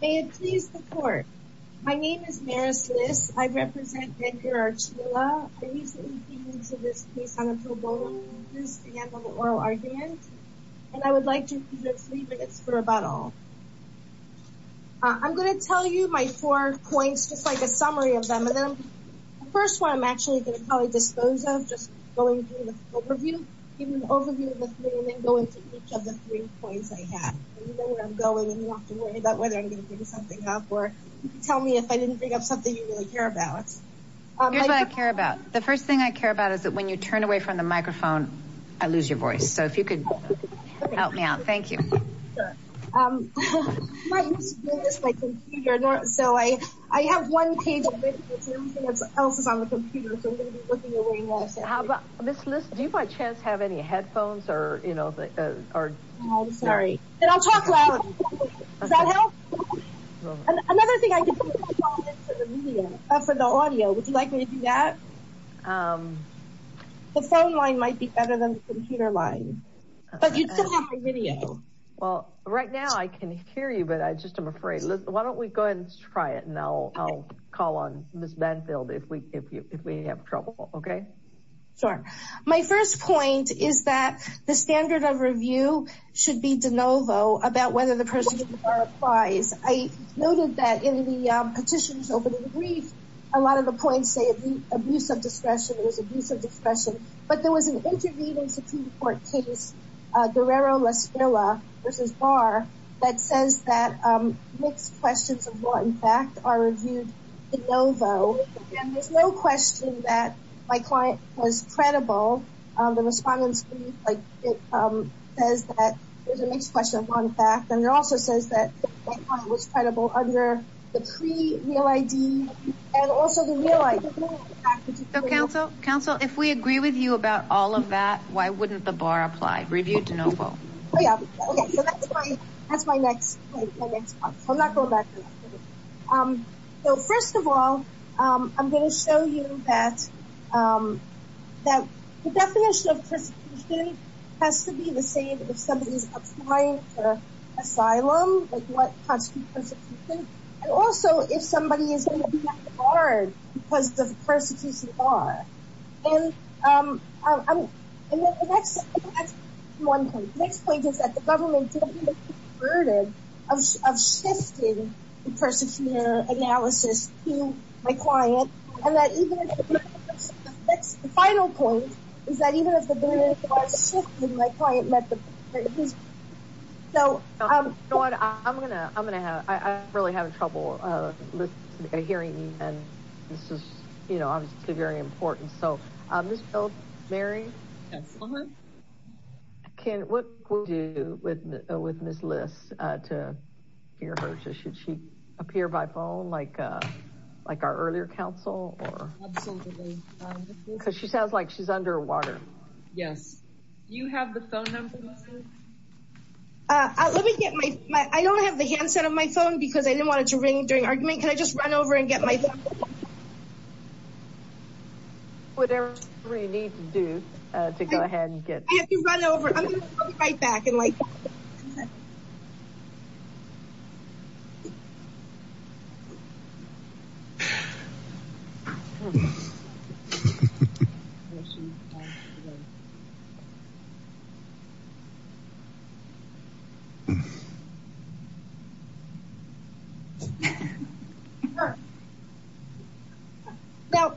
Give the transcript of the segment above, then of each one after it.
May it please the court, my name is Maris Liss, I represent Edgar Archila, I recently came into this case on a pro bono basis to handle an oral argument, and I would like to give you three minutes for a rebuttal. I'm going to tell you my four points, just like a summary of them, and then the first one I'm actually going to probably dispose of, just going through the overview, give you an overview of the three, and then go into each of the three points I have. You know where I'm going, and you don't have to worry about whether I'm going to bring something up, or you can tell me if I didn't bring up something you really care about. Here's what I care about, the first thing I care about is that when you turn away from the microphone, I lose your voice, so if you could help me out, thank you. My computer, so I have one page of videos, and everything else is on the computer, so I'm going to be looking away while I say anything. Ms. Liss, do you by chance have any headphones, or you know, or? I'm sorry, and I'll talk loud, does that help? Another thing, I can put my phone into the video, for the audio, would you like me to do that? The phone line might be better than the computer line, but you still have my video. Well, right now I can hear you, but I just am afraid, why don't we go ahead and try it, and I'll call on Ms. Banfield if we have trouble, okay? Sure, my first point is that the standard of review should be de novo about whether the person in the bar applies. I noted that in the petitions over the brief, a lot of the points say abuse of discretion, it was abuse of discretion, but there was an intervening Supreme Court case, Guerrero v. Barr, that says that mixed questions of law and fact are reviewed de novo, and there's no question that my client was credible, the respondents believe, like, it says that there's a mixed question of law and fact, and it also says that my client was credible under the pre-real ID, and also the real ID. So counsel, if we agree with you about all of that, why wouldn't the bar apply, reviewed de novo? Oh yeah, okay, so that's my next point, my next point, so I'm not going back to that. So first of all, I'm going to show you that the definition of persecution has to be the same if somebody's applying for asylum, like what constitutes persecution, and also if somebody is going to be on the bar because of the persecution bar, and that's one point. The next point is that the government didn't even consider the burden of shifting the persecutor analysis to my client, and the final point is that even if the burden was shifted, my client met the bar. So I'm going to, I'm going to have, I'm really having trouble hearing you, and this is, you know, obviously very important. So Ms. Mary, what would you do with Ms. Liss to hear her? Should she appear by phone like our earlier counsel? Absolutely. Because she sounds like she's underwater. Yes. Do you have the phone number? Let me get my, I don't have the handset of my phone because I didn't want it to ring during argument. Can I just run over and get my phone? Whatever you need to do to go ahead and get it. I have to run over. I'm going to be right back. Now,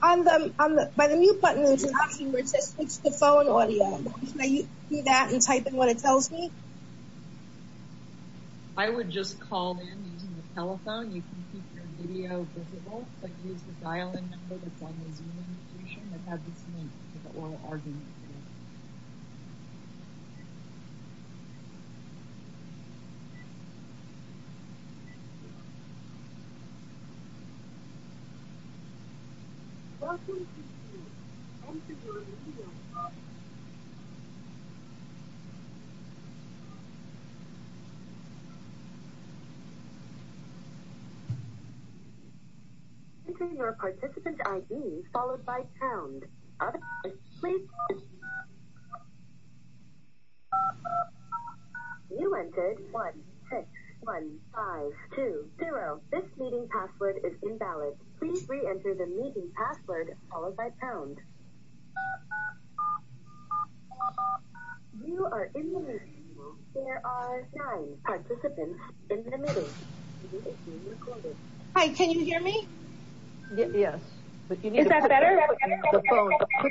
on the, by the mute button, we're talking, we're just, it's the phone audio. Can I use that and type in what it tells me? I would just call in using the telephone. You can keep your video visible, but use the dial-in number that's on the Zoom invitation that has the link to the oral argument. Welcome to Zoom. Enter your email address. Enter your participant ID, followed by pound. Please. You entered 161520. This meeting password is invalid. Please re-enter the meeting password, followed by pound. You are in the meeting. There are nine participants in the meeting. Hi, can you hear me? Yes. Is that better? Put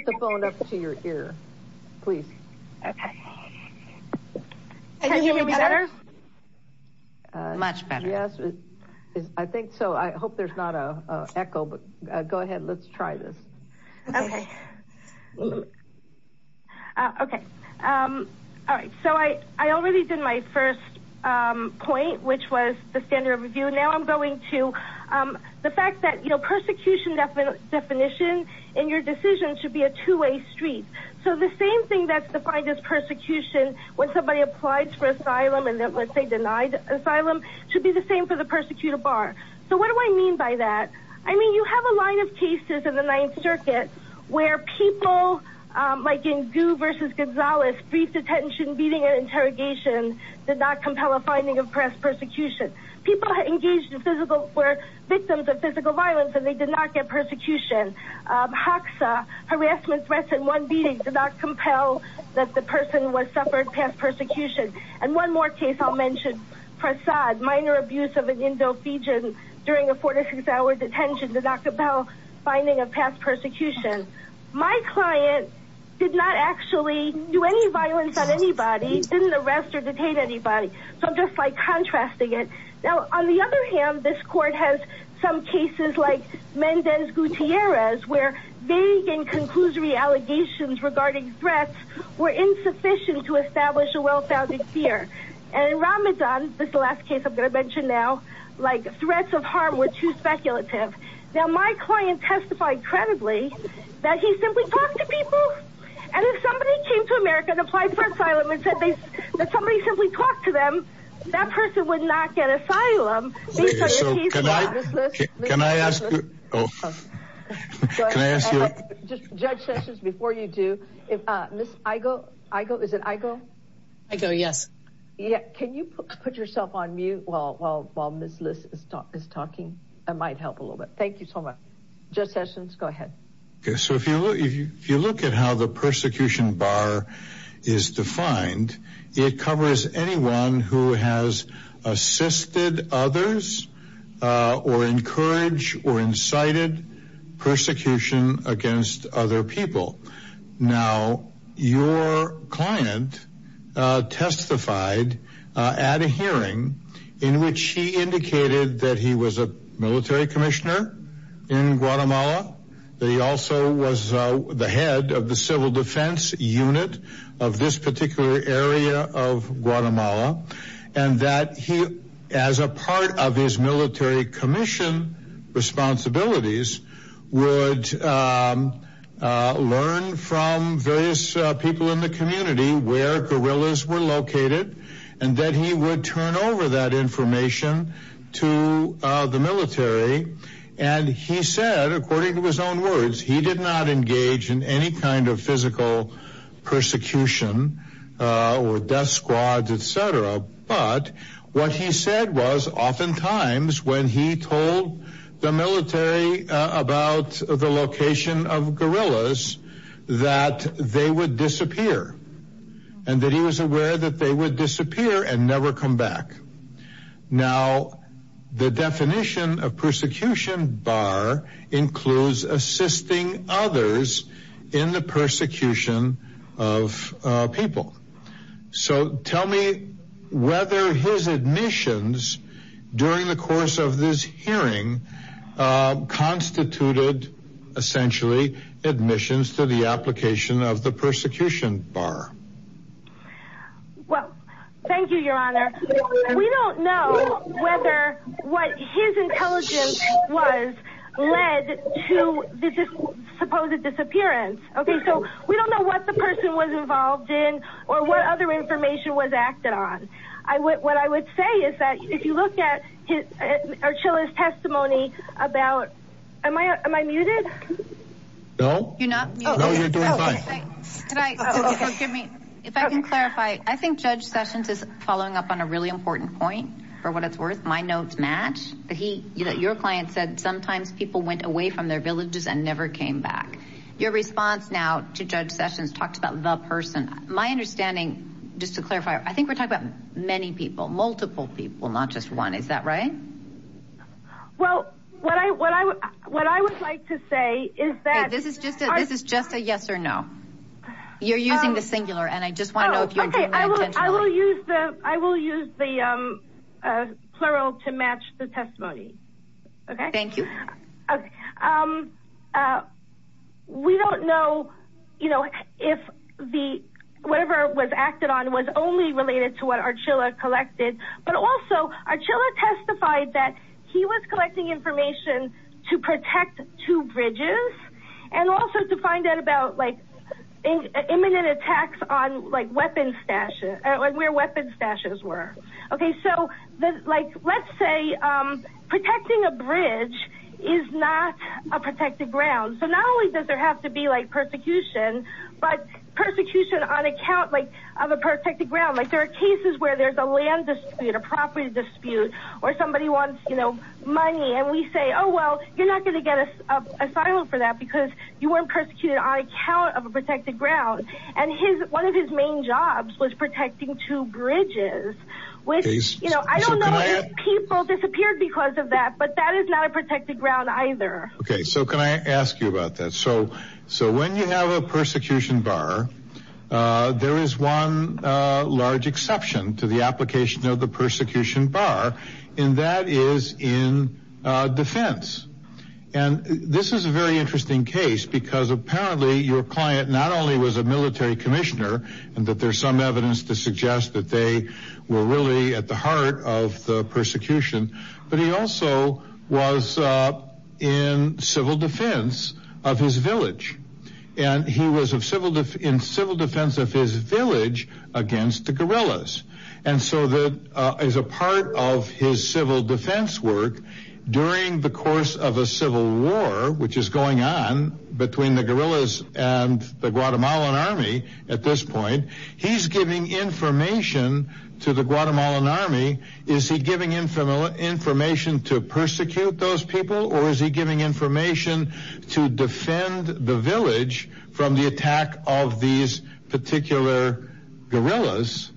the phone up to your ear. Please. Can you hear me better? Much better. Yes, I think so. I hope there's not an echo, but go ahead. Let's try this. Okay. Okay. All right. So, I already did my first point, which was the standard of review. Now, I'm going to, the fact that, you know, persecution definition in your decision should be a two-way street. So, the same thing that's defined as persecution when somebody applies for asylum and then, let's say, denied asylum, should be the same for the persecutor bar. So, what do I mean by that? I mean, you have a line of cases in the Ninth Circuit where people, like in Gu versus Gonzalez, brief detention, beating, and interrogation did not compel a finding of past persecution. People engaged in physical, were victims of physical violence, and they did not get persecution. HACSA, harassment, threats, and one beating did not compel that the person was suffered past persecution. And one more case I'll mention, Prasad, minor abuse of an Indo-Fijian during a 46-hour detention did not compel finding of past persecution. My client did not actually do any violence on anybody, didn't arrest or detain anybody. So, I'm just, like, contrasting it. Now, on the other hand, this court has some cases like Mendez Gutierrez, where vague and And in Ramadan, this is the last case I'm going to mention now, like, threats of harm were too speculative. Now, my client testified credibly that he simply talked to people. And if somebody came to America and applied for asylum and said that somebody simply talked to them, that person would not get asylum. So, can I ask you? Oh. Can I ask you? Judge Sessions, before you do, if Ms. Aigo, Aigo, is it Aigo? Aigo, yes. Can you put yourself on mute while Ms. Lis is talking? That might help a little bit. Thank you so much. Judge Sessions, go ahead. So, if you look at how the persecution bar is defined, it covers anyone who has assisted others or encouraged or incited persecution against other people. Now, your client testified at a hearing in which he indicated that he was a military commissioner in Guatemala, that he also was the head of the civil defense unit of this particular area of Guatemala, and that he, as a part of his military commission responsibilities, would learn from various people in the community where guerrillas were located and that he would turn over that information to the military. And he said, according to his own words, he did not engage in any kind of physical persecution or death squads, etc., but what he said was, oftentimes, when he told the military about the location of guerrillas, that they would disappear, and that he was aware that they would disappear and never come back. Now, the definition of persecution bar includes assisting others in the persecution of people. So, tell me whether his admissions during the course of this hearing constituted, essentially, admissions to the application of the persecution bar. Well, thank you, Your Honor. We don't know whether what his intelligence was led to the supposed disappearance, okay? So, we don't know what the person was involved in or what other information was acted on. What I would say is that if you look at Archilla's testimony about... Am I muted? No. You're not muted? No, you're doing fine. If I can clarify, I think Judge Sessions is following up on a really important point, for what it's worth. My notes match. Your client said, sometimes people went away from their villages and never came back. Your response now to Judge Sessions talked about the person. My understanding, just to clarify, I think we're talking about many people, multiple people, not just one. Is that right? Well, what I would like to say is that... This is just a yes or no. You're using the singular, and I just want to know if you're doing that intentionally. I will use the plural to match the testimony, okay? Thank you. We don't know if whatever was acted on was only related to what Archilla collected, but also Archilla testified that he was collecting information to protect two bridges and also to find out about imminent attacks on where weapons stashes were. Let's say protecting a bridge is not a protected ground. Not only does there have to be persecution, but persecution on account of a protected ground. There are cases where there's a land dispute, a property dispute, or somebody wants money, and we say, oh well, you're not going to get asylum for that because you weren't persecuted on account of a protected ground. And one of his main jobs was protecting two bridges. I don't know if people disappeared because of that, but that is not a protected ground either. Okay, so can I ask you about that? So when you have a persecution bar, there is one large exception to the application of the persecution bar, and that is in defense. And this is a very interesting case because apparently your client not only was a military commissioner and that there's some evidence to suggest that they were really at the heart of the persecution, but he also was in civil defense of his village. And he was in civil defense of his village against the guerrillas. And so as a part of his civil defense work, during the course of a civil war, which is going on between the guerrillas and the Guatemalan army at this point, he's giving information to the Guatemalan army. Is he giving information to persecute those people or is he giving information to defend the village from the attack of these particular guerrillas,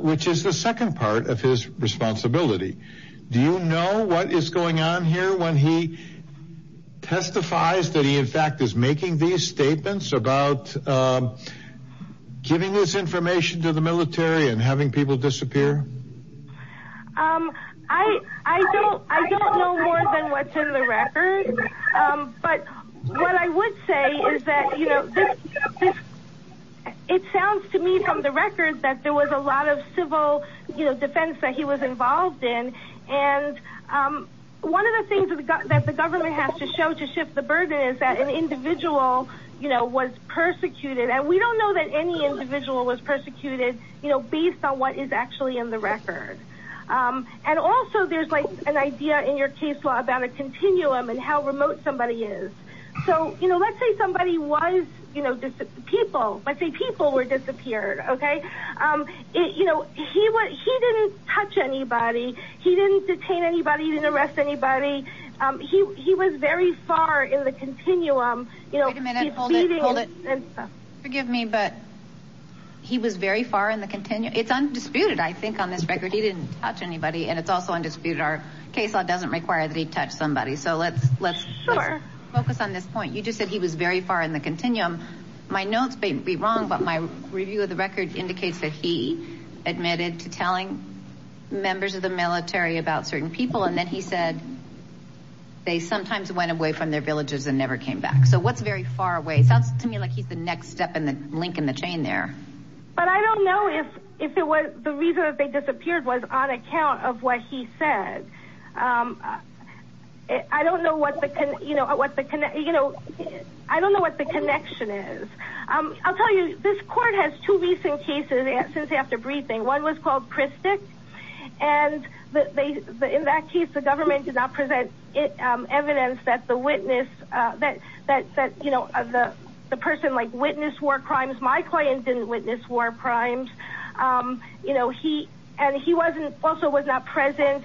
which is the second part of his responsibility. Do you know what is going on here when he testifies that he in fact is making these statements about giving this information to the military and having people disappear? I don't know more than what's in the record. But what I would say is that, you know, it sounds to me from the record that there was a lot of civil defense that he was involved in. And one of the things that the government has to show to shift the burden is that an individual, you know, was persecuted. And we don't know that any individual was persecuted, you know, based on what is actually in the record. And also there's like an idea in your case law about a continuum and how remote somebody is. So, you know, let's say somebody was, you know, people. Let's say people were disappeared, okay? You know, he didn't touch anybody. He didn't detain anybody. He didn't arrest anybody. He was very far in the continuum. Wait a minute. Hold it. Hold it. Forgive me, but he was very far in the continuum. It's undisputed, I think, on this record. He didn't touch anybody, and it's also undisputed. Our case law doesn't require that he touch somebody. So let's focus on this point. You just said he was very far in the continuum. My notes may be wrong, but my review of the record indicates that he admitted to telling members of the military about certain people. And then he said they sometimes went away from their villages and never came back. So what's very far away? It sounds to me like he's the next step in the link in the chain there. But I don't know if it was the reason that they disappeared was on account of what he said. I don't know what the, you know, I don't know what the connection is. I'll tell you, this court has two recent cases since after briefing. One was called Christic, and in that case the government did not present evidence that the witness, that, you know, the person, like, witnessed war crimes. My client didn't witness war crimes. You know, and he also was not present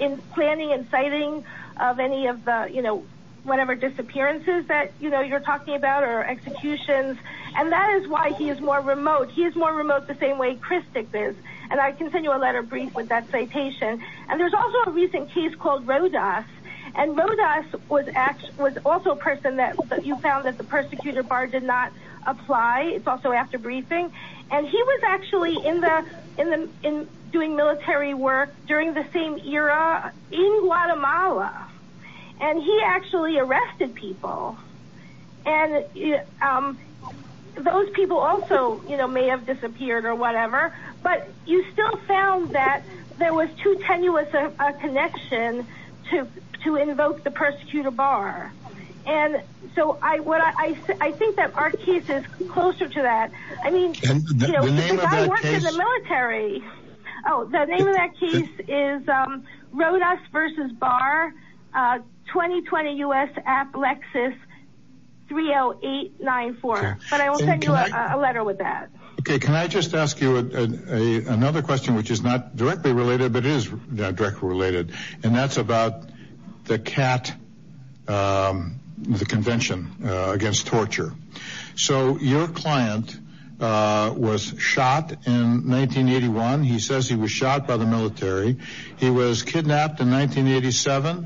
in planning and citing of any of the, you know, whatever disappearances that, you know, you're talking about or executions. And that is why he is more remote. He is more remote the same way Christic is. And I can send you a letter briefed with that citation. And there's also a recent case called Rodas. And Rodas was also a person that you found that the persecutor bar did not apply. It's also after briefing. And he was actually in doing military work during the same era in Guatemala. And he actually arrested people. And those people also, you know, may have disappeared or whatever. But you still found that there was too tenuous a connection to invoke the persecutor bar. And so I think that our case is closer to that. I mean, you know, the guy worked in the military. Oh, the name of that case is Rodas v. Bar, 2020 U.S. App Lexus 30894. But I will send you a letter with that. Okay. Can I just ask you another question, which is not directly related, but it is directly related. And that's about the CAT, the Convention Against Torture. So your client was shot in 1981. He says he was shot by the military. He was kidnapped in 1987.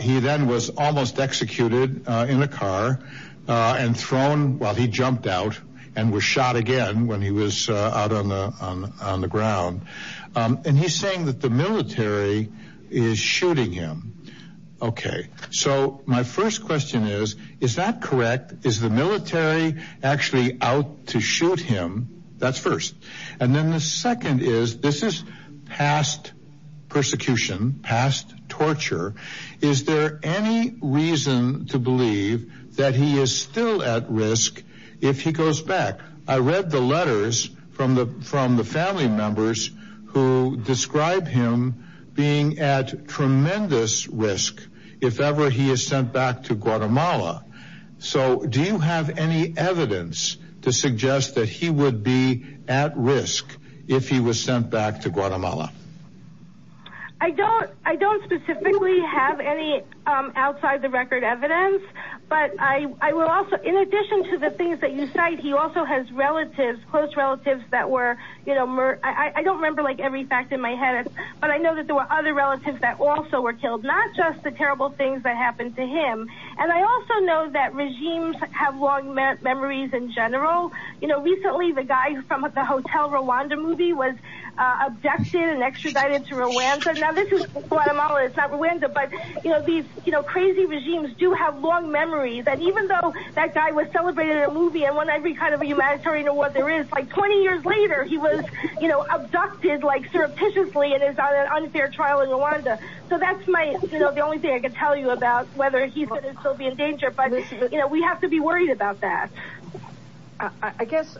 He then was almost executed in a car and thrown while he jumped out and was shot again when he was out on the ground. And he's saying that the military is shooting him. Okay. So my first question is, is that correct? Is the military actually out to shoot him? That's first. And then the second is, this is past persecution, past torture. Is there any reason to believe that he is still at risk if he goes back? I read the letters from the family members who describe him being at tremendous risk if ever he is sent back to Guatemala. So do you have any evidence to suggest that he would be at risk if he was sent back to Guatemala? I don't. I don't specifically have any outside-the-record evidence. But I will also, in addition to the things that you cite, he also has relatives, close relatives that were, you know, I don't remember like every fact in my head. But I know that there were other relatives that also were killed, not just the terrible things that happened to him. And I also know that regimes have long memories in general. You know, recently the guy from the Hotel Rwanda movie was abducted and extradited to Rwanda. Now, this is Guatemala. It's not Rwanda. But, you know, these crazy regimes do have long memories. And even though that guy was celebrated in a movie and won every kind of humanitarian award there is, like 20 years later he was, you know, abducted like surreptitiously and is on an unfair trial in Rwanda. So that's my, you know, the only thing I can tell you about whether he's going to still be in danger. But, you know, we have to be worried about that. I guess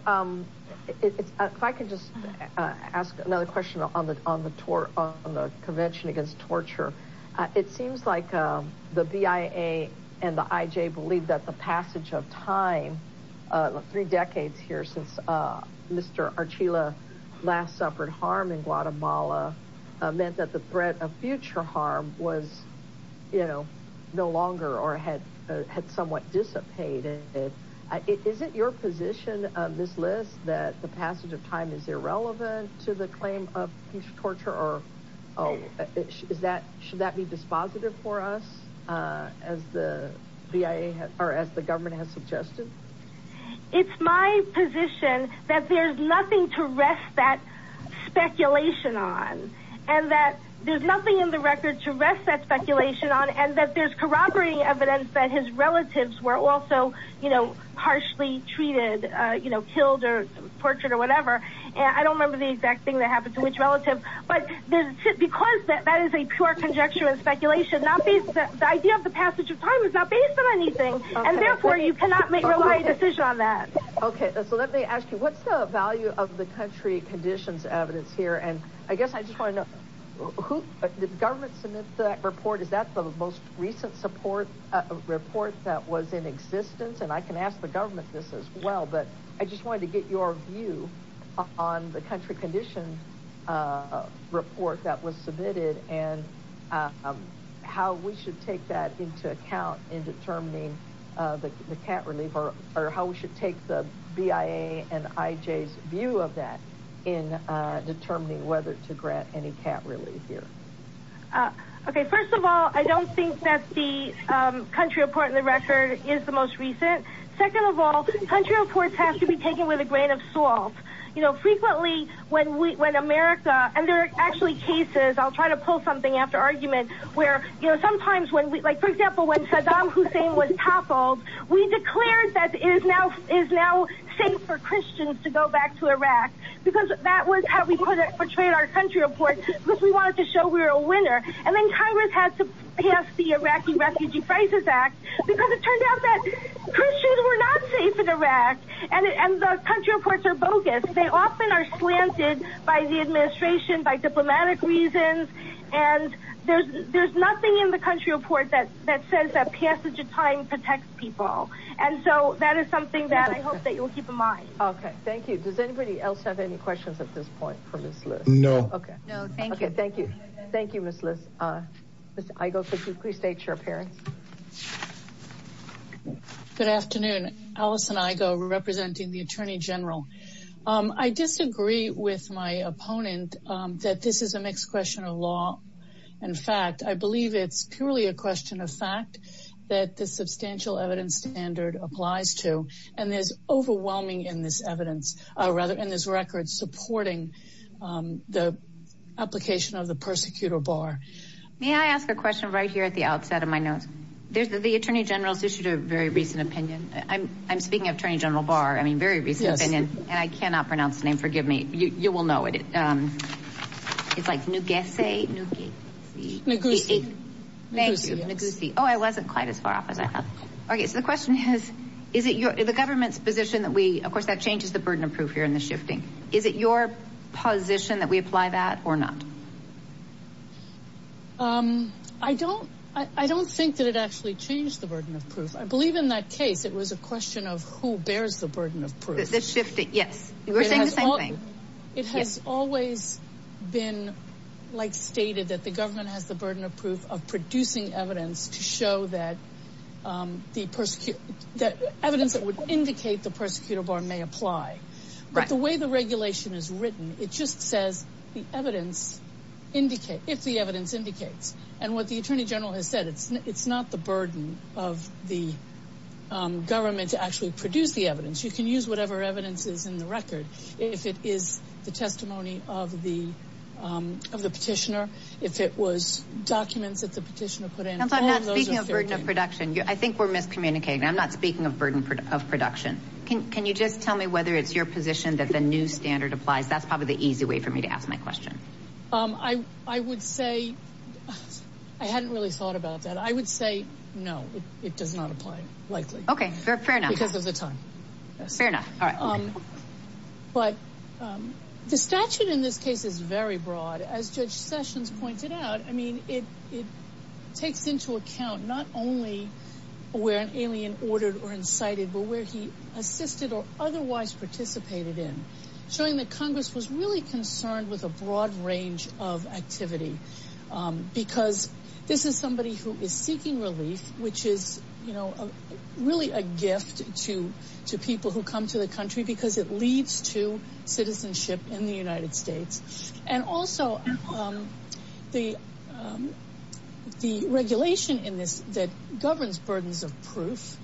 if I could just ask another question on the Convention Against Torture. It seems like the BIA and the IJ believe that the passage of time, three decades here since Mr. Archila last suffered harm in Guatemala, meant that the threat of future harm was, you know, no longer or had somewhat dissipated. Is it your position, Ms. List, that the passage of time is irrelevant to the claim of future torture or should that be dispositive for us as the BIA or as the government has suggested? It's my position that there's nothing to rest that speculation on and that there's nothing in the record to rest that speculation on and that there's corroborating evidence that his relatives were also, you know, harshly treated, you know, killed or tortured or whatever. I don't remember the exact thing that happened to which relative. But because that is a pure conjecture and speculation, the idea of the passage of time is not based on anything. And therefore, you cannot make a decision on that. Okay, so let me ask you, what's the value of the country conditions evidence here? And I guess I just want to know, did the government submit that report? Is that the most recent support report that was in existence? And I can ask the government this as well, but I just wanted to get your view on the country conditions report that was submitted and how we should take that into account in determining the cat relief or how we should take the BIA and IJ's view of that in determining whether to grant any cat relief here. Okay, first of all, I don't think that the country report in the record is the most recent. Second of all, country reports have to be taken with a grain of salt. You know, frequently when America, and there are actually cases, I'll try to pull something after argument, where sometimes, for example, when Saddam Hussein was toppled, we declared that it is now safe for Christians to go back to Iraq. Because that was how we portrayed our country report, because we wanted to show we were a winner. And then Congress had to pass the Iraqi Refugee Crisis Act, because it turned out that Christians were not safe in Iraq. And the country reports are bogus. They often are slanted by the administration, by diplomatic reasons. And there's nothing in the country report that says that passage of time protects people. And so that is something that I hope that you'll keep in mind. Okay, thank you. Does anybody else have any questions at this point from this list? No. No, thank you. Okay, thank you. Thank you, Ms. Liss. Ms. Igo, could you please state your appearance? Good afternoon. Allison Igo representing the Attorney General. I disagree with my opponent that this is a mixed question of law and fact. I believe it's purely a question of fact that the substantial evidence standard applies to. And there's overwhelming evidence in this record supporting the application of the persecutor bar. May I ask a question right here at the outset of my notes? The Attorney General has issued a very recent opinion. I'm speaking of Attorney General Barr. I mean, a very recent opinion. And I cannot pronounce the name. Forgive me. You will know it. It's like Neguse? Neguse. Thank you. Neguse. Oh, I wasn't quite as far off as I thought. Okay, so the question is, is it the government's position that we, of course, that changes the burden of proof here in the shifting. Is it your position that we apply that or not? I don't think that it actually changed the burden of proof. I believe in that case it was a question of who bears the burden of proof. The shifting, yes. We're saying the same thing. It has always been like stated that the government has the burden of proof of producing evidence to show that the evidence that would indicate the persecutor bar may apply. But the way the regulation is written, it just says the evidence, if the evidence indicates. And what the Attorney General has said, it's not the burden of the government to actually produce the evidence. You can use whatever evidence is in the record. If it is the testimony of the petitioner, if it was documents that the petitioner put in. I'm not speaking of burden of production. I think we're miscommunicating. I'm not speaking of burden of production. Can you just tell me whether it's your position that the new standard applies? That's probably the easy way for me to ask my question. I would say I hadn't really thought about that. I would say no, it does not apply, likely. Okay, fair enough. Because of the time. Fair enough. But the statute in this case is very broad. As Judge Sessions pointed out, I mean, it takes into account not only where an alien ordered or incited, but where he assisted or otherwise participated in. Showing that Congress was really concerned with a broad range of activity. Because this is somebody who is seeking relief, which is really a gift to people who come to the country because it leads to citizenship in the United States. And also, the regulation in this that governs burdens of proof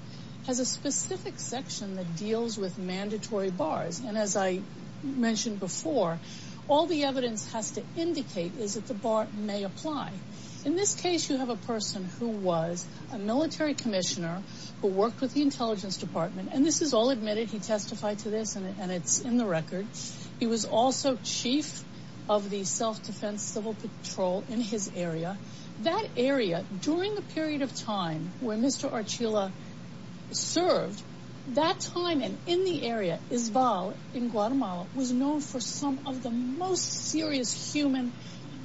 has a specific section that deals with mandatory bars. And as I mentioned before, all the evidence has to indicate is that the bar may apply. In this case, you have a person who was a military commissioner who worked with the intelligence department. And this is all admitted. He testified to this and it's in the record. He was also chief of the self-defense civil patrol in his area. That area, during the period of time when Mr. Archila served, that time and in the area, Isval in Guatemala, was known for some of the most serious human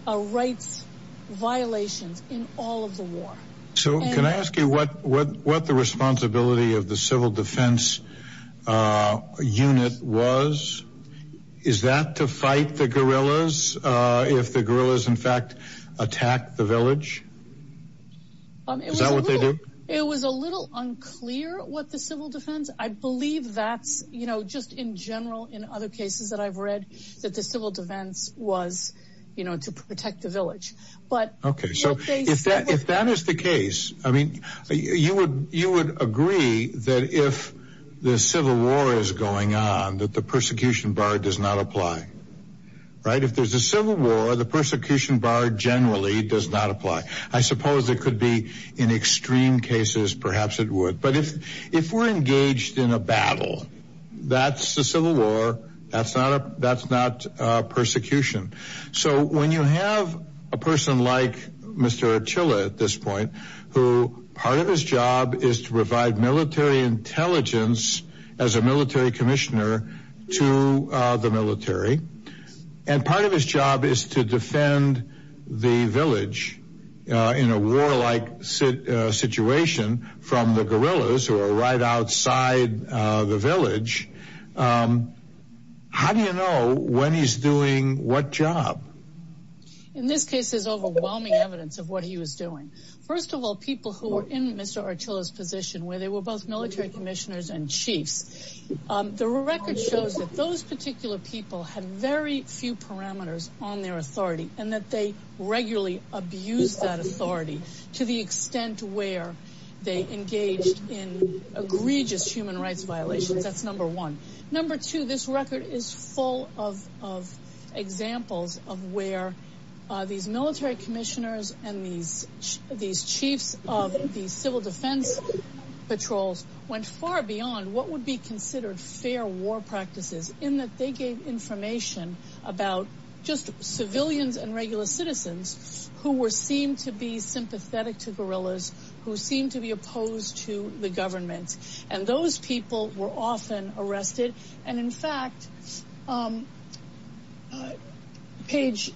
rights violations in all of the war. So, can I ask you what the responsibility of the civil defense unit was? Is that to fight the guerrillas if the guerrillas, in fact, attack the village? Is that what they do? It was a little unclear what the civil defense. I believe that's just in general in other cases that I've read that the civil defense was to protect the village. If that is the case, you would agree that if the civil war is going on, that the persecution bar does not apply. If there's a civil war, the persecution bar generally does not apply. I suppose it could be in extreme cases, perhaps it would. But if we're engaged in a battle, that's a civil war, that's not persecution. So, when you have a person like Mr. Archila at this point, who part of his job is to provide military intelligence as a military commissioner to the military, and part of his job is to defend the village in a war-like situation from the guerrillas who are right outside the village, how do you know when he's doing what job? In this case, there's overwhelming evidence of what he was doing. First of all, people who were in Mr. Archila's position, where they were both military commissioners and chiefs, the record shows that those particular people had very few parameters on their authority, and that they regularly abused that authority to the extent where they engaged in egregious human rights violations. That's number one. Number two, this record is full of examples of where these military commissioners and these chiefs of the civil defense patrols went far beyond what would be considered fair war practices, in that they gave information about just civilians and regular citizens who were seen to be sympathetic to guerrillas, who seemed to be opposed to the government. Those people were often arrested, and in fact, page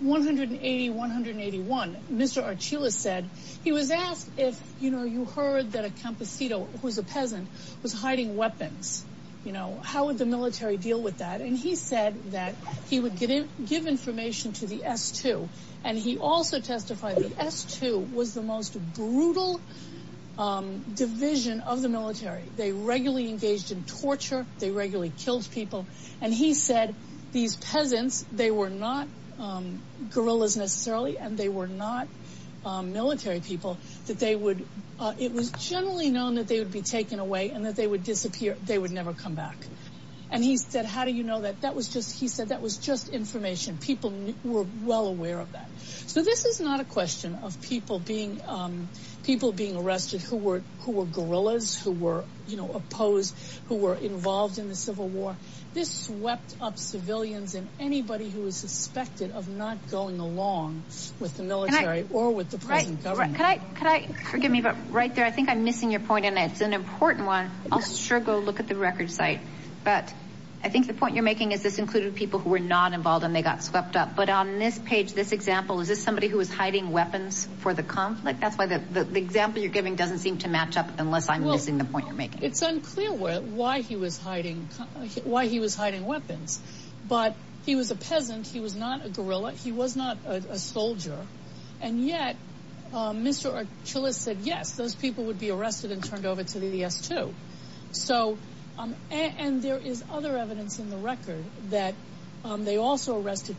180, 181, Mr. Archila said, he was asked if you heard that a campesito, who's a peasant, was hiding weapons. How would the military deal with that? He said that he would give information to the S2, and he also testified that S2 was the most brutal division of the military. They regularly engaged in torture. They regularly killed people. He said these peasants, they were not guerrillas necessarily, and they were not military people. It was generally known that they would be taken away and that they would disappear. They would never come back. And he said, how do you know that? He said that was just information. People were well aware of that. So this is not a question of people being arrested who were guerrillas, who were opposed, who were involved in the Civil War. This swept up civilians and anybody who was suspected of not going along with the military or with the present government. Forgive me, but right there, I think I'm missing your point, and it's an important one. I'll sure go look at the record site. But I think the point you're making is this included people who were not involved and they got swept up. But on this page, this example, is this somebody who was hiding weapons for the conflict? That's why the example you're giving doesn't seem to match up unless I'm missing the point you're making. It's unclear why he was hiding weapons. But he was a peasant. He was not a guerrilla. He was not a soldier. And yet, Mr. Achilles said, yes, those people would be arrested and turned over to the DS2. And there is other evidence in the record that they also arrested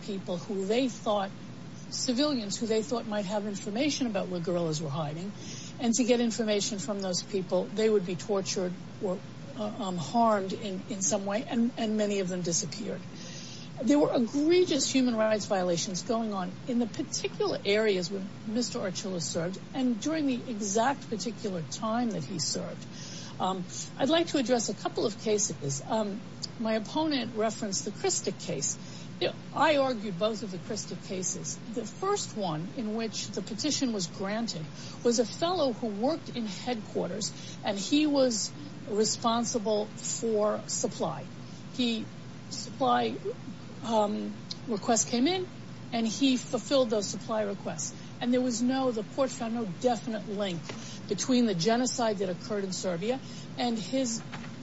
civilians who they thought might have information about where guerrillas were hiding. And to get information from those people, they would be tortured or harmed in some way, and many of them disappeared. There were egregious human rights violations going on in the particular areas where Mr. Achilles served and during the exact particular time that he served. I'd like to address a couple of cases. My opponent referenced the Christick case. I argued both of the Christick cases. The first one in which the petition was granted was a fellow who worked in headquarters, and he was responsible for supply. Supply requests came in, and he fulfilled those supply requests. And the port found no definite link between the genocide that occurred in Serbia and his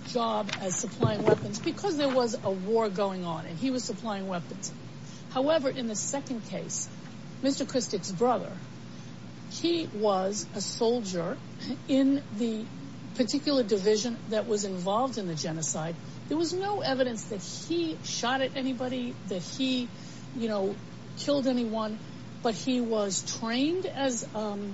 job as supplying weapons because there was a war going on, and he was supplying weapons. However, in the second case, Mr. Christick's brother, he was a soldier in the particular division that was involved in the genocide. There was no evidence that he shot at anybody, that he killed anyone, but he was trained in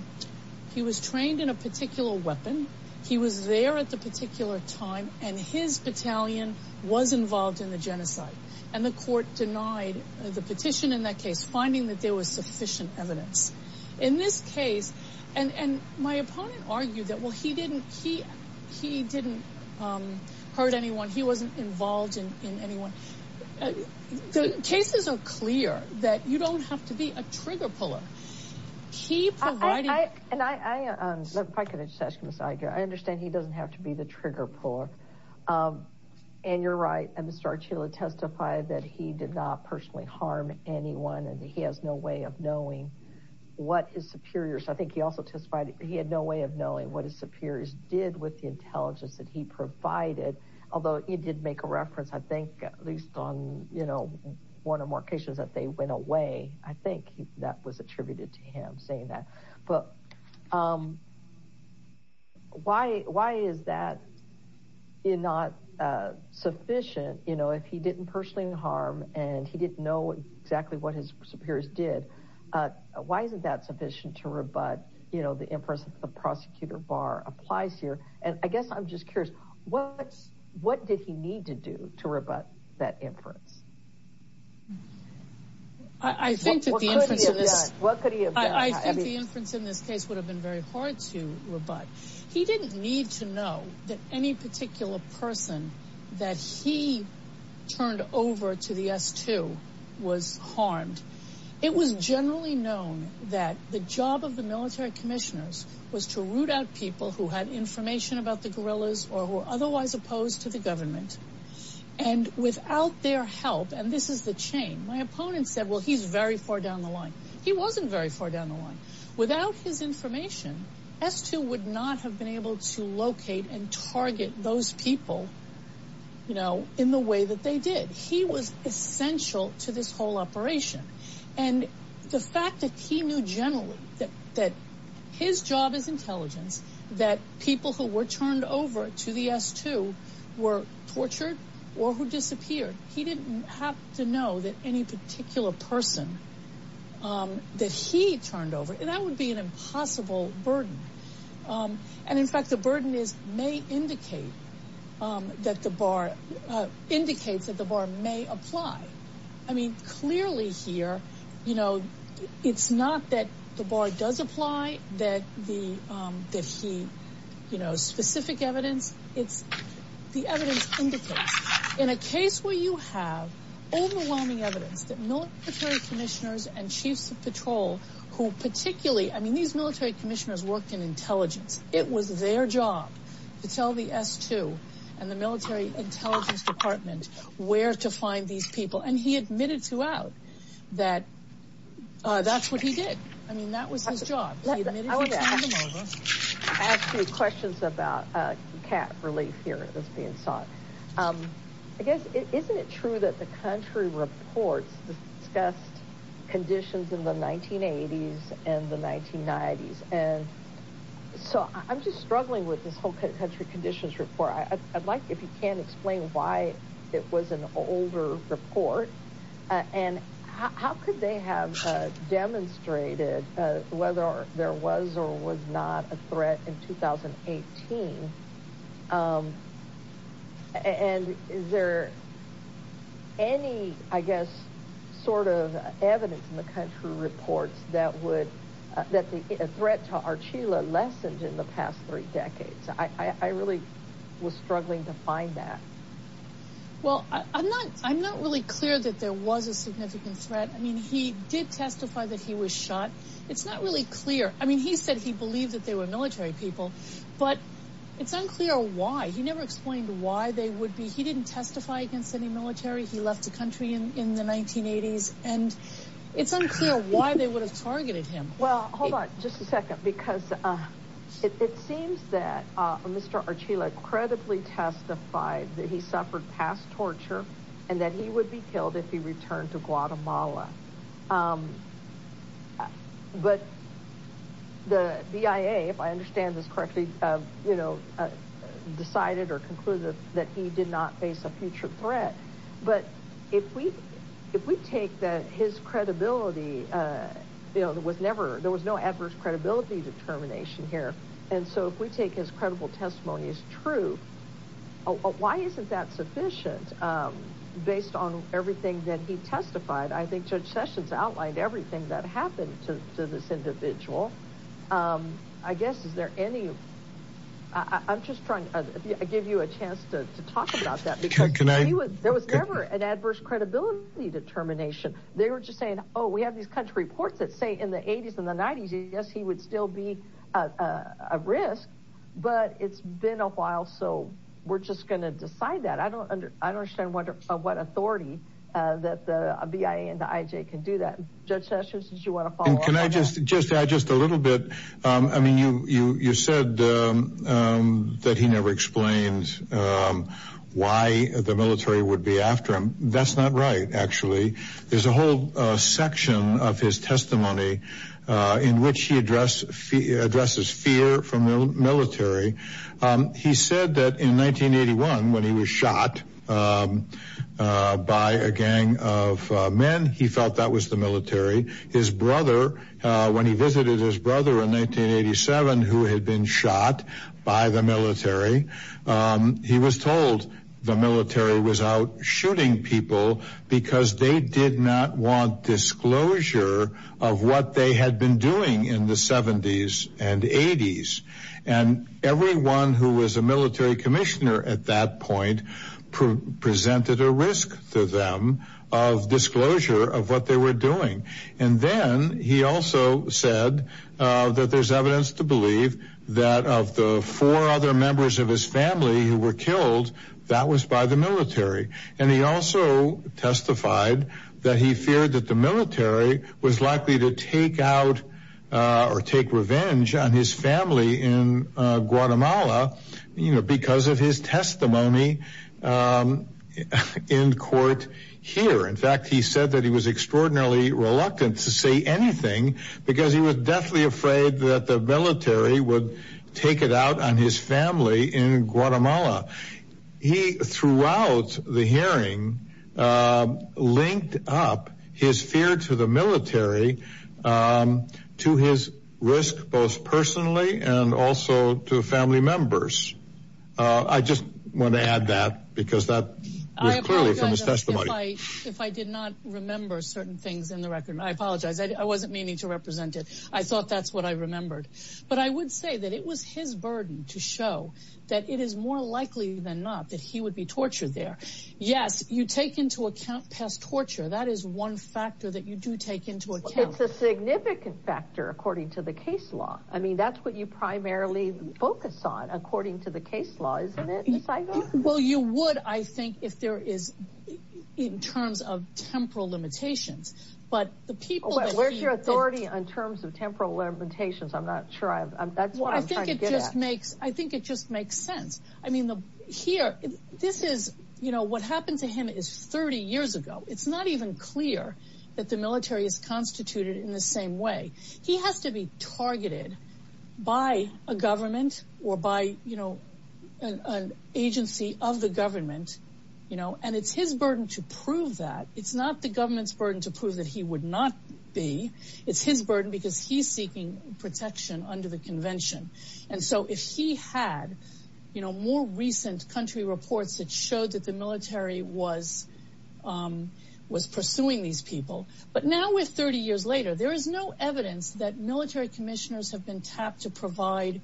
a particular weapon. He was there at the particular time, and his battalion was involved in the genocide. And the court denied the petition in that case, finding that there was sufficient evidence. In this case, and my opponent argued that, well, he didn't hurt anyone. He wasn't involved in anyone. The cases are clear that you don't have to be a trigger puller. If I could just ask Ms. Iger, I understand he doesn't have to be the trigger puller. And you're right, Mr. Archila testified that he did not personally harm anyone, and he has no way of knowing what his superiors, I think he also testified he had no way of knowing what his superiors did with the intelligence that he provided. Although he did make a reference, I think, at least on one or more occasions that they went away. I think that was attributed to him saying that. But why is that not sufficient? If he didn't personally harm, and he didn't know exactly what his superiors did, why isn't that sufficient to rebut the inference that the prosecutor bar applies here? And I guess I'm just curious, what did he need to do to rebut that inference? What could he have done? I think the inference in this case would have been very hard to rebut. He didn't need to know that any particular person that he turned over to the S2 was harmed. It was generally known that the job of the military commissioners was to root out people who had information about the guerrillas or who were otherwise opposed to the government. And without their help, and this is the chain, my opponent said, well, he's very far down the line. He wasn't very far down the line. Without his information, S2 would not have been able to locate and target those people, you know, in the way that they did. He was essential to this whole operation. And the fact that he knew generally that his job is intelligence, that people who were turned over to the S2 were tortured or who disappeared. He didn't have to know that any particular person that he turned over, and that would be an impossible burden. And in fact, the burden is, may indicate that the bar, indicates that the bar may apply. I mean, clearly here, you know, it's not that the bar does apply, that he, you know, specific evidence, it's the evidence indicates. In a case where you have overwhelming evidence that military commissioners and chiefs of patrol who particularly, I mean, these military commissioners worked in intelligence. It was their job to tell the S2 and the military intelligence department where to find these people. And he admitted to out that that's what he did. I mean, that was his job. I have two questions about cat relief here that's being sought. I guess, isn't it true that the country reports discussed conditions in the 1980s and the 1990s? And so I'm just struggling with this whole country conditions report. I'd like if you can explain why it was an older report. And how could they have demonstrated whether there was or was not a threat in 2018? And is there any, I guess, sort of evidence in the country reports that would that the threat to our Chile lessened in the past three decades? I really was struggling to find that. Well, I'm not I'm not really clear that there was a significant threat. I mean, he did testify that he was shot. It's not really clear. I mean, he said he believed that they were military people, but it's unclear why. He never explained why they would be. He didn't testify against any military. He left the country in the 1980s, and it's unclear why they would have targeted him. Well, hold on just a second, because it seems that Mr. Archila credibly testified that he suffered past torture and that he would be killed if he returned to Guatemala. But the BIA, if I understand this correctly, you know, decided or concluded that he did not face a future threat. But if we if we take that, his credibility was never there was no adverse credibility determination here. And so if we take his credible testimony is true. Why isn't that sufficient based on everything that he testified? I think Judge Sessions outlined everything that happened to this individual. I guess. Is there any I'm just trying to give you a chance to talk about that. There was never an adverse credibility determination. They were just saying, oh, we have these country reports that say in the 80s and the 90s. Yes, he would still be a risk. But it's been a while. So we're just going to decide that. I don't I don't understand what what authority that the BIA and the IJ can do that. Judge Sessions, did you want to follow up? Can I just just add just a little bit? I mean, you you you said that he never explained why the military would be after him. That's not right. Actually, there's a whole section of his testimony in which he address addresses fear from the military. He said that in 1981, when he was shot by a gang of men, he felt that was the military. His brother, when he visited his brother in 1987, who had been shot by the military, he was told the military was out shooting people because they did not want disclosure of what they had been doing in the 70s and 80s. And everyone who was a military commissioner at that point presented a risk to them of disclosure of what they were doing. And then he also said that there's evidence to believe that of the four other members of his family who were killed, that was by the military. And he also testified that he feared that the military was likely to take out or take revenge on his family in Guatemala, you know, because of his testimony in court here. In fact, he said that he was extraordinarily reluctant to say anything because he was deathly afraid that the military would take it out on his family in Guatemala. He, throughout the hearing, linked up his fear to the military to his risk, both personally and also to family members. I just want to add that because that was clearly from his testimony. If I did not remember certain things in the record, I apologize. I wasn't meaning to represent it. I thought that's what I remembered. But I would say that it was his burden to show that it is more likely than not that he would be tortured there. Yes, you take into account past torture. That is one factor that you do take into account. It's a significant factor, according to the case law. I mean, that's what you primarily focus on, according to the case law, isn't it? Well, you would, I think, if there is in terms of temporal limitations. Where is your authority in terms of temporal limitations? I'm not sure. That's what I'm trying to get at. I think it just makes sense. I mean, here, what happened to him is 30 years ago. It's not even clear that the military is constituted in the same way. He has to be targeted by a government or by an agency of the government. And it's his burden to prove that. It's not the government's burden to prove that he would not be. It's his burden because he's seeking protection under the convention. And so if he had more recent country reports that showed that the military was pursuing these people. But now we're 30 years later. There is no evidence that military commissioners have been tapped to provide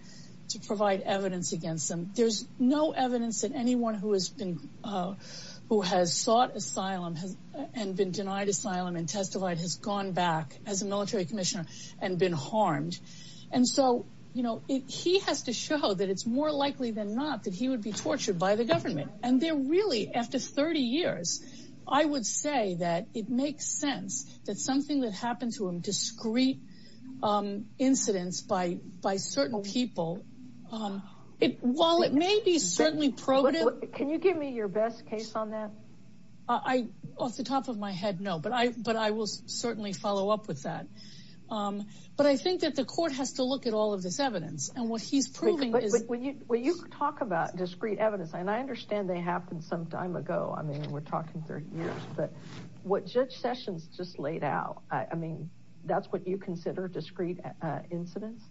evidence against them. There's no evidence that anyone who has been who has sought asylum and been denied asylum and testified has gone back as a military commissioner and been harmed. And so, you know, he has to show that it's more likely than not that he would be tortured by the government. And they're really after 30 years. I would say that it makes sense that something that happened to him, discreet incidents by by certain people. It while it may be certainly pro. Can you give me your best case on that? I off the top of my head. No, but I but I will certainly follow up with that. But I think that the court has to look at all of this evidence and what he's proving is when you talk about discreet evidence. And I understand they happened some time ago. I mean, we're talking 30 years. But what Judge Sessions just laid out, I mean, that's what you consider discreet incidents.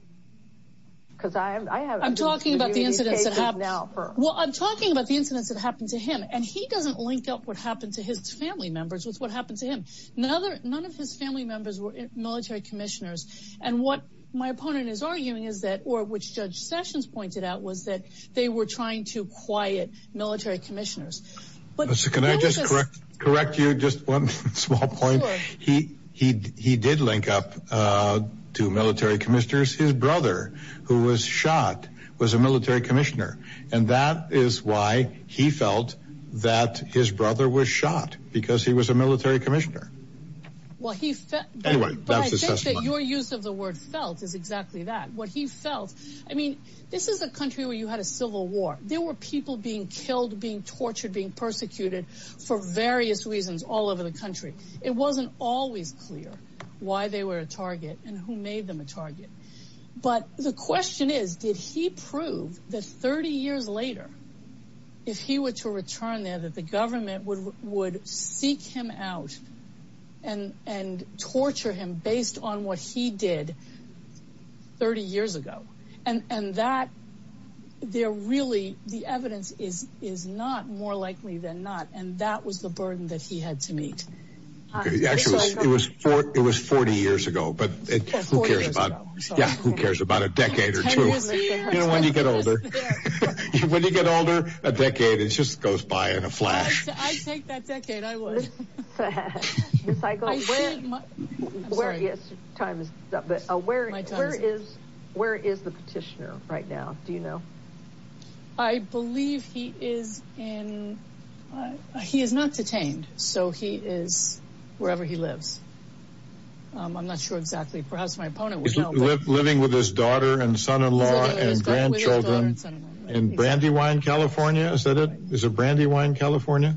Because I have I'm talking about the incidents that happened now. Well, I'm talking about the incidents that happened to him, and he doesn't link up what happened to his family members with what happened to him. None of his family members were military commissioners. And what my opponent is arguing is that or which Judge Sessions pointed out was that they were trying to quiet military commissioners. But can I just correct you? Just one small point. He he he did link up to military commissioners. His brother, who was shot, was a military commissioner. And that is why he felt that his brother was shot, because he was a military commissioner. Well, he said that your use of the word felt is exactly that what he felt. I mean, this is a country where you had a civil war. There were people being killed, being tortured, being persecuted for various reasons all over the country. It wasn't always clear why they were a target and who made them a target. But the question is, did he prove that 30 years later, if he were to return there, that the government would would seek him out and and torture him based on what he did 30 years ago? And that they're really the evidence is is not more likely than not. And that was the burden that he had to meet. Yes, it was. It was 40 years ago. But who cares about who cares about a decade or two? You know, when you get older, when you get older, a decade, it just goes by in a flash. I take that decade. I was the cycle. But where is where is the petitioner right now? Do you know? I believe he is in. He is not detained. So he is wherever he lives. I'm not sure exactly. Perhaps my opponent was living with his daughter and son in law and grandchildren in Brandywine, California. Is that it is a Brandywine, California?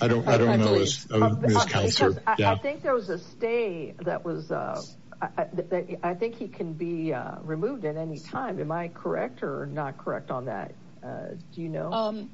I don't I don't know. I think there was a stay. That was I think he can be removed at any time. Am I correct or not correct on that? Do you know?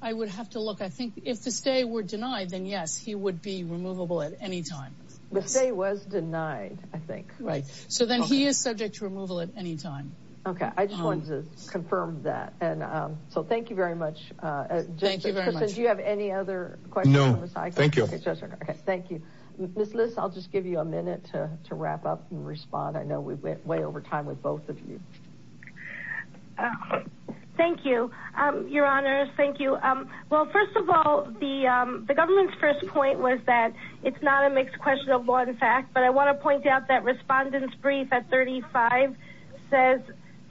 I would have to look. I think if the stay were denied, then, yes, he would be removable at any time. The stay was denied, I think. Right. So then he is subject to removal at any time. OK, I just wanted to confirm that. And so thank you very much. Thank you very much. Do you have any other questions? No. Thank you. OK, thank you. Miss Lewis, I'll just give you a minute to to wrap up and respond. I know we went way over time with both of you. Thank you, Your Honor. Thank you. Well, first of all, the the government's first point was that it's not a mixed question of one fact. But I want to point out that respondent's brief at thirty five says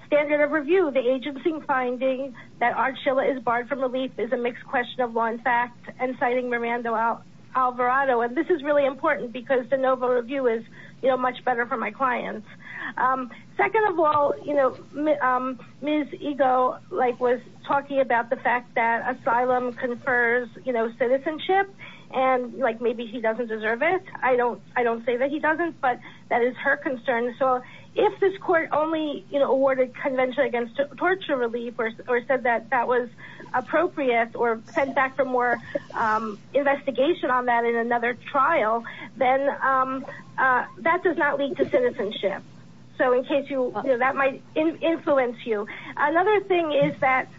standard of review. The agency finding that Archilla is barred from relief is a mixed question of one fact. And citing Miranda Alvarado. And this is really important because the Novo review is much better for my clients. Second of all, you know, Ms. Eagle was talking about the fact that asylum confers citizenship and like maybe he doesn't deserve it. I don't I don't say that he doesn't. But that is her concern. So if this court only awarded convention against torture, relief or said that that was appropriate or sent back for more investigation on that in another trial, then that does not lead to citizenship. So in case you know that might influence you. Another thing is that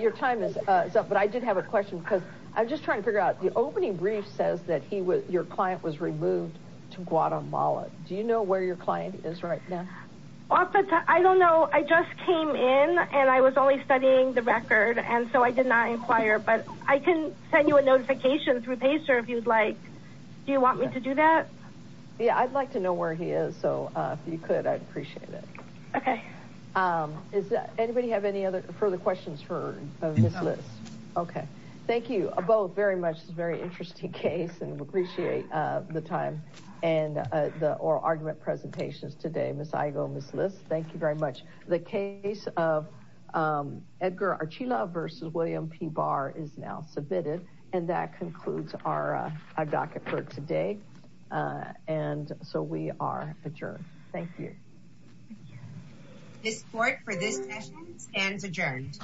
your time is up. But I did have a question because I'm just trying to figure out the opening brief says that he was your client was removed to Guatemala. Do you know where your client is right now? I don't know. I just came in and I was only studying the record. And so I did not inquire. But I can send you a notification through pacer if you'd like. Do you want me to do that? Yeah, I'd like to know where he is. So if you could, I'd appreciate it. OK, is that anybody have any other further questions for this list? OK, thank you both very much. Very interesting case. And we appreciate the time and the oral argument presentations today. Thank you very much. The case of Edgar Archela versus William P. Barr is now submitted. And that concludes our docket for today. And so we are adjourned. Thank you. This court for this session stands adjourned.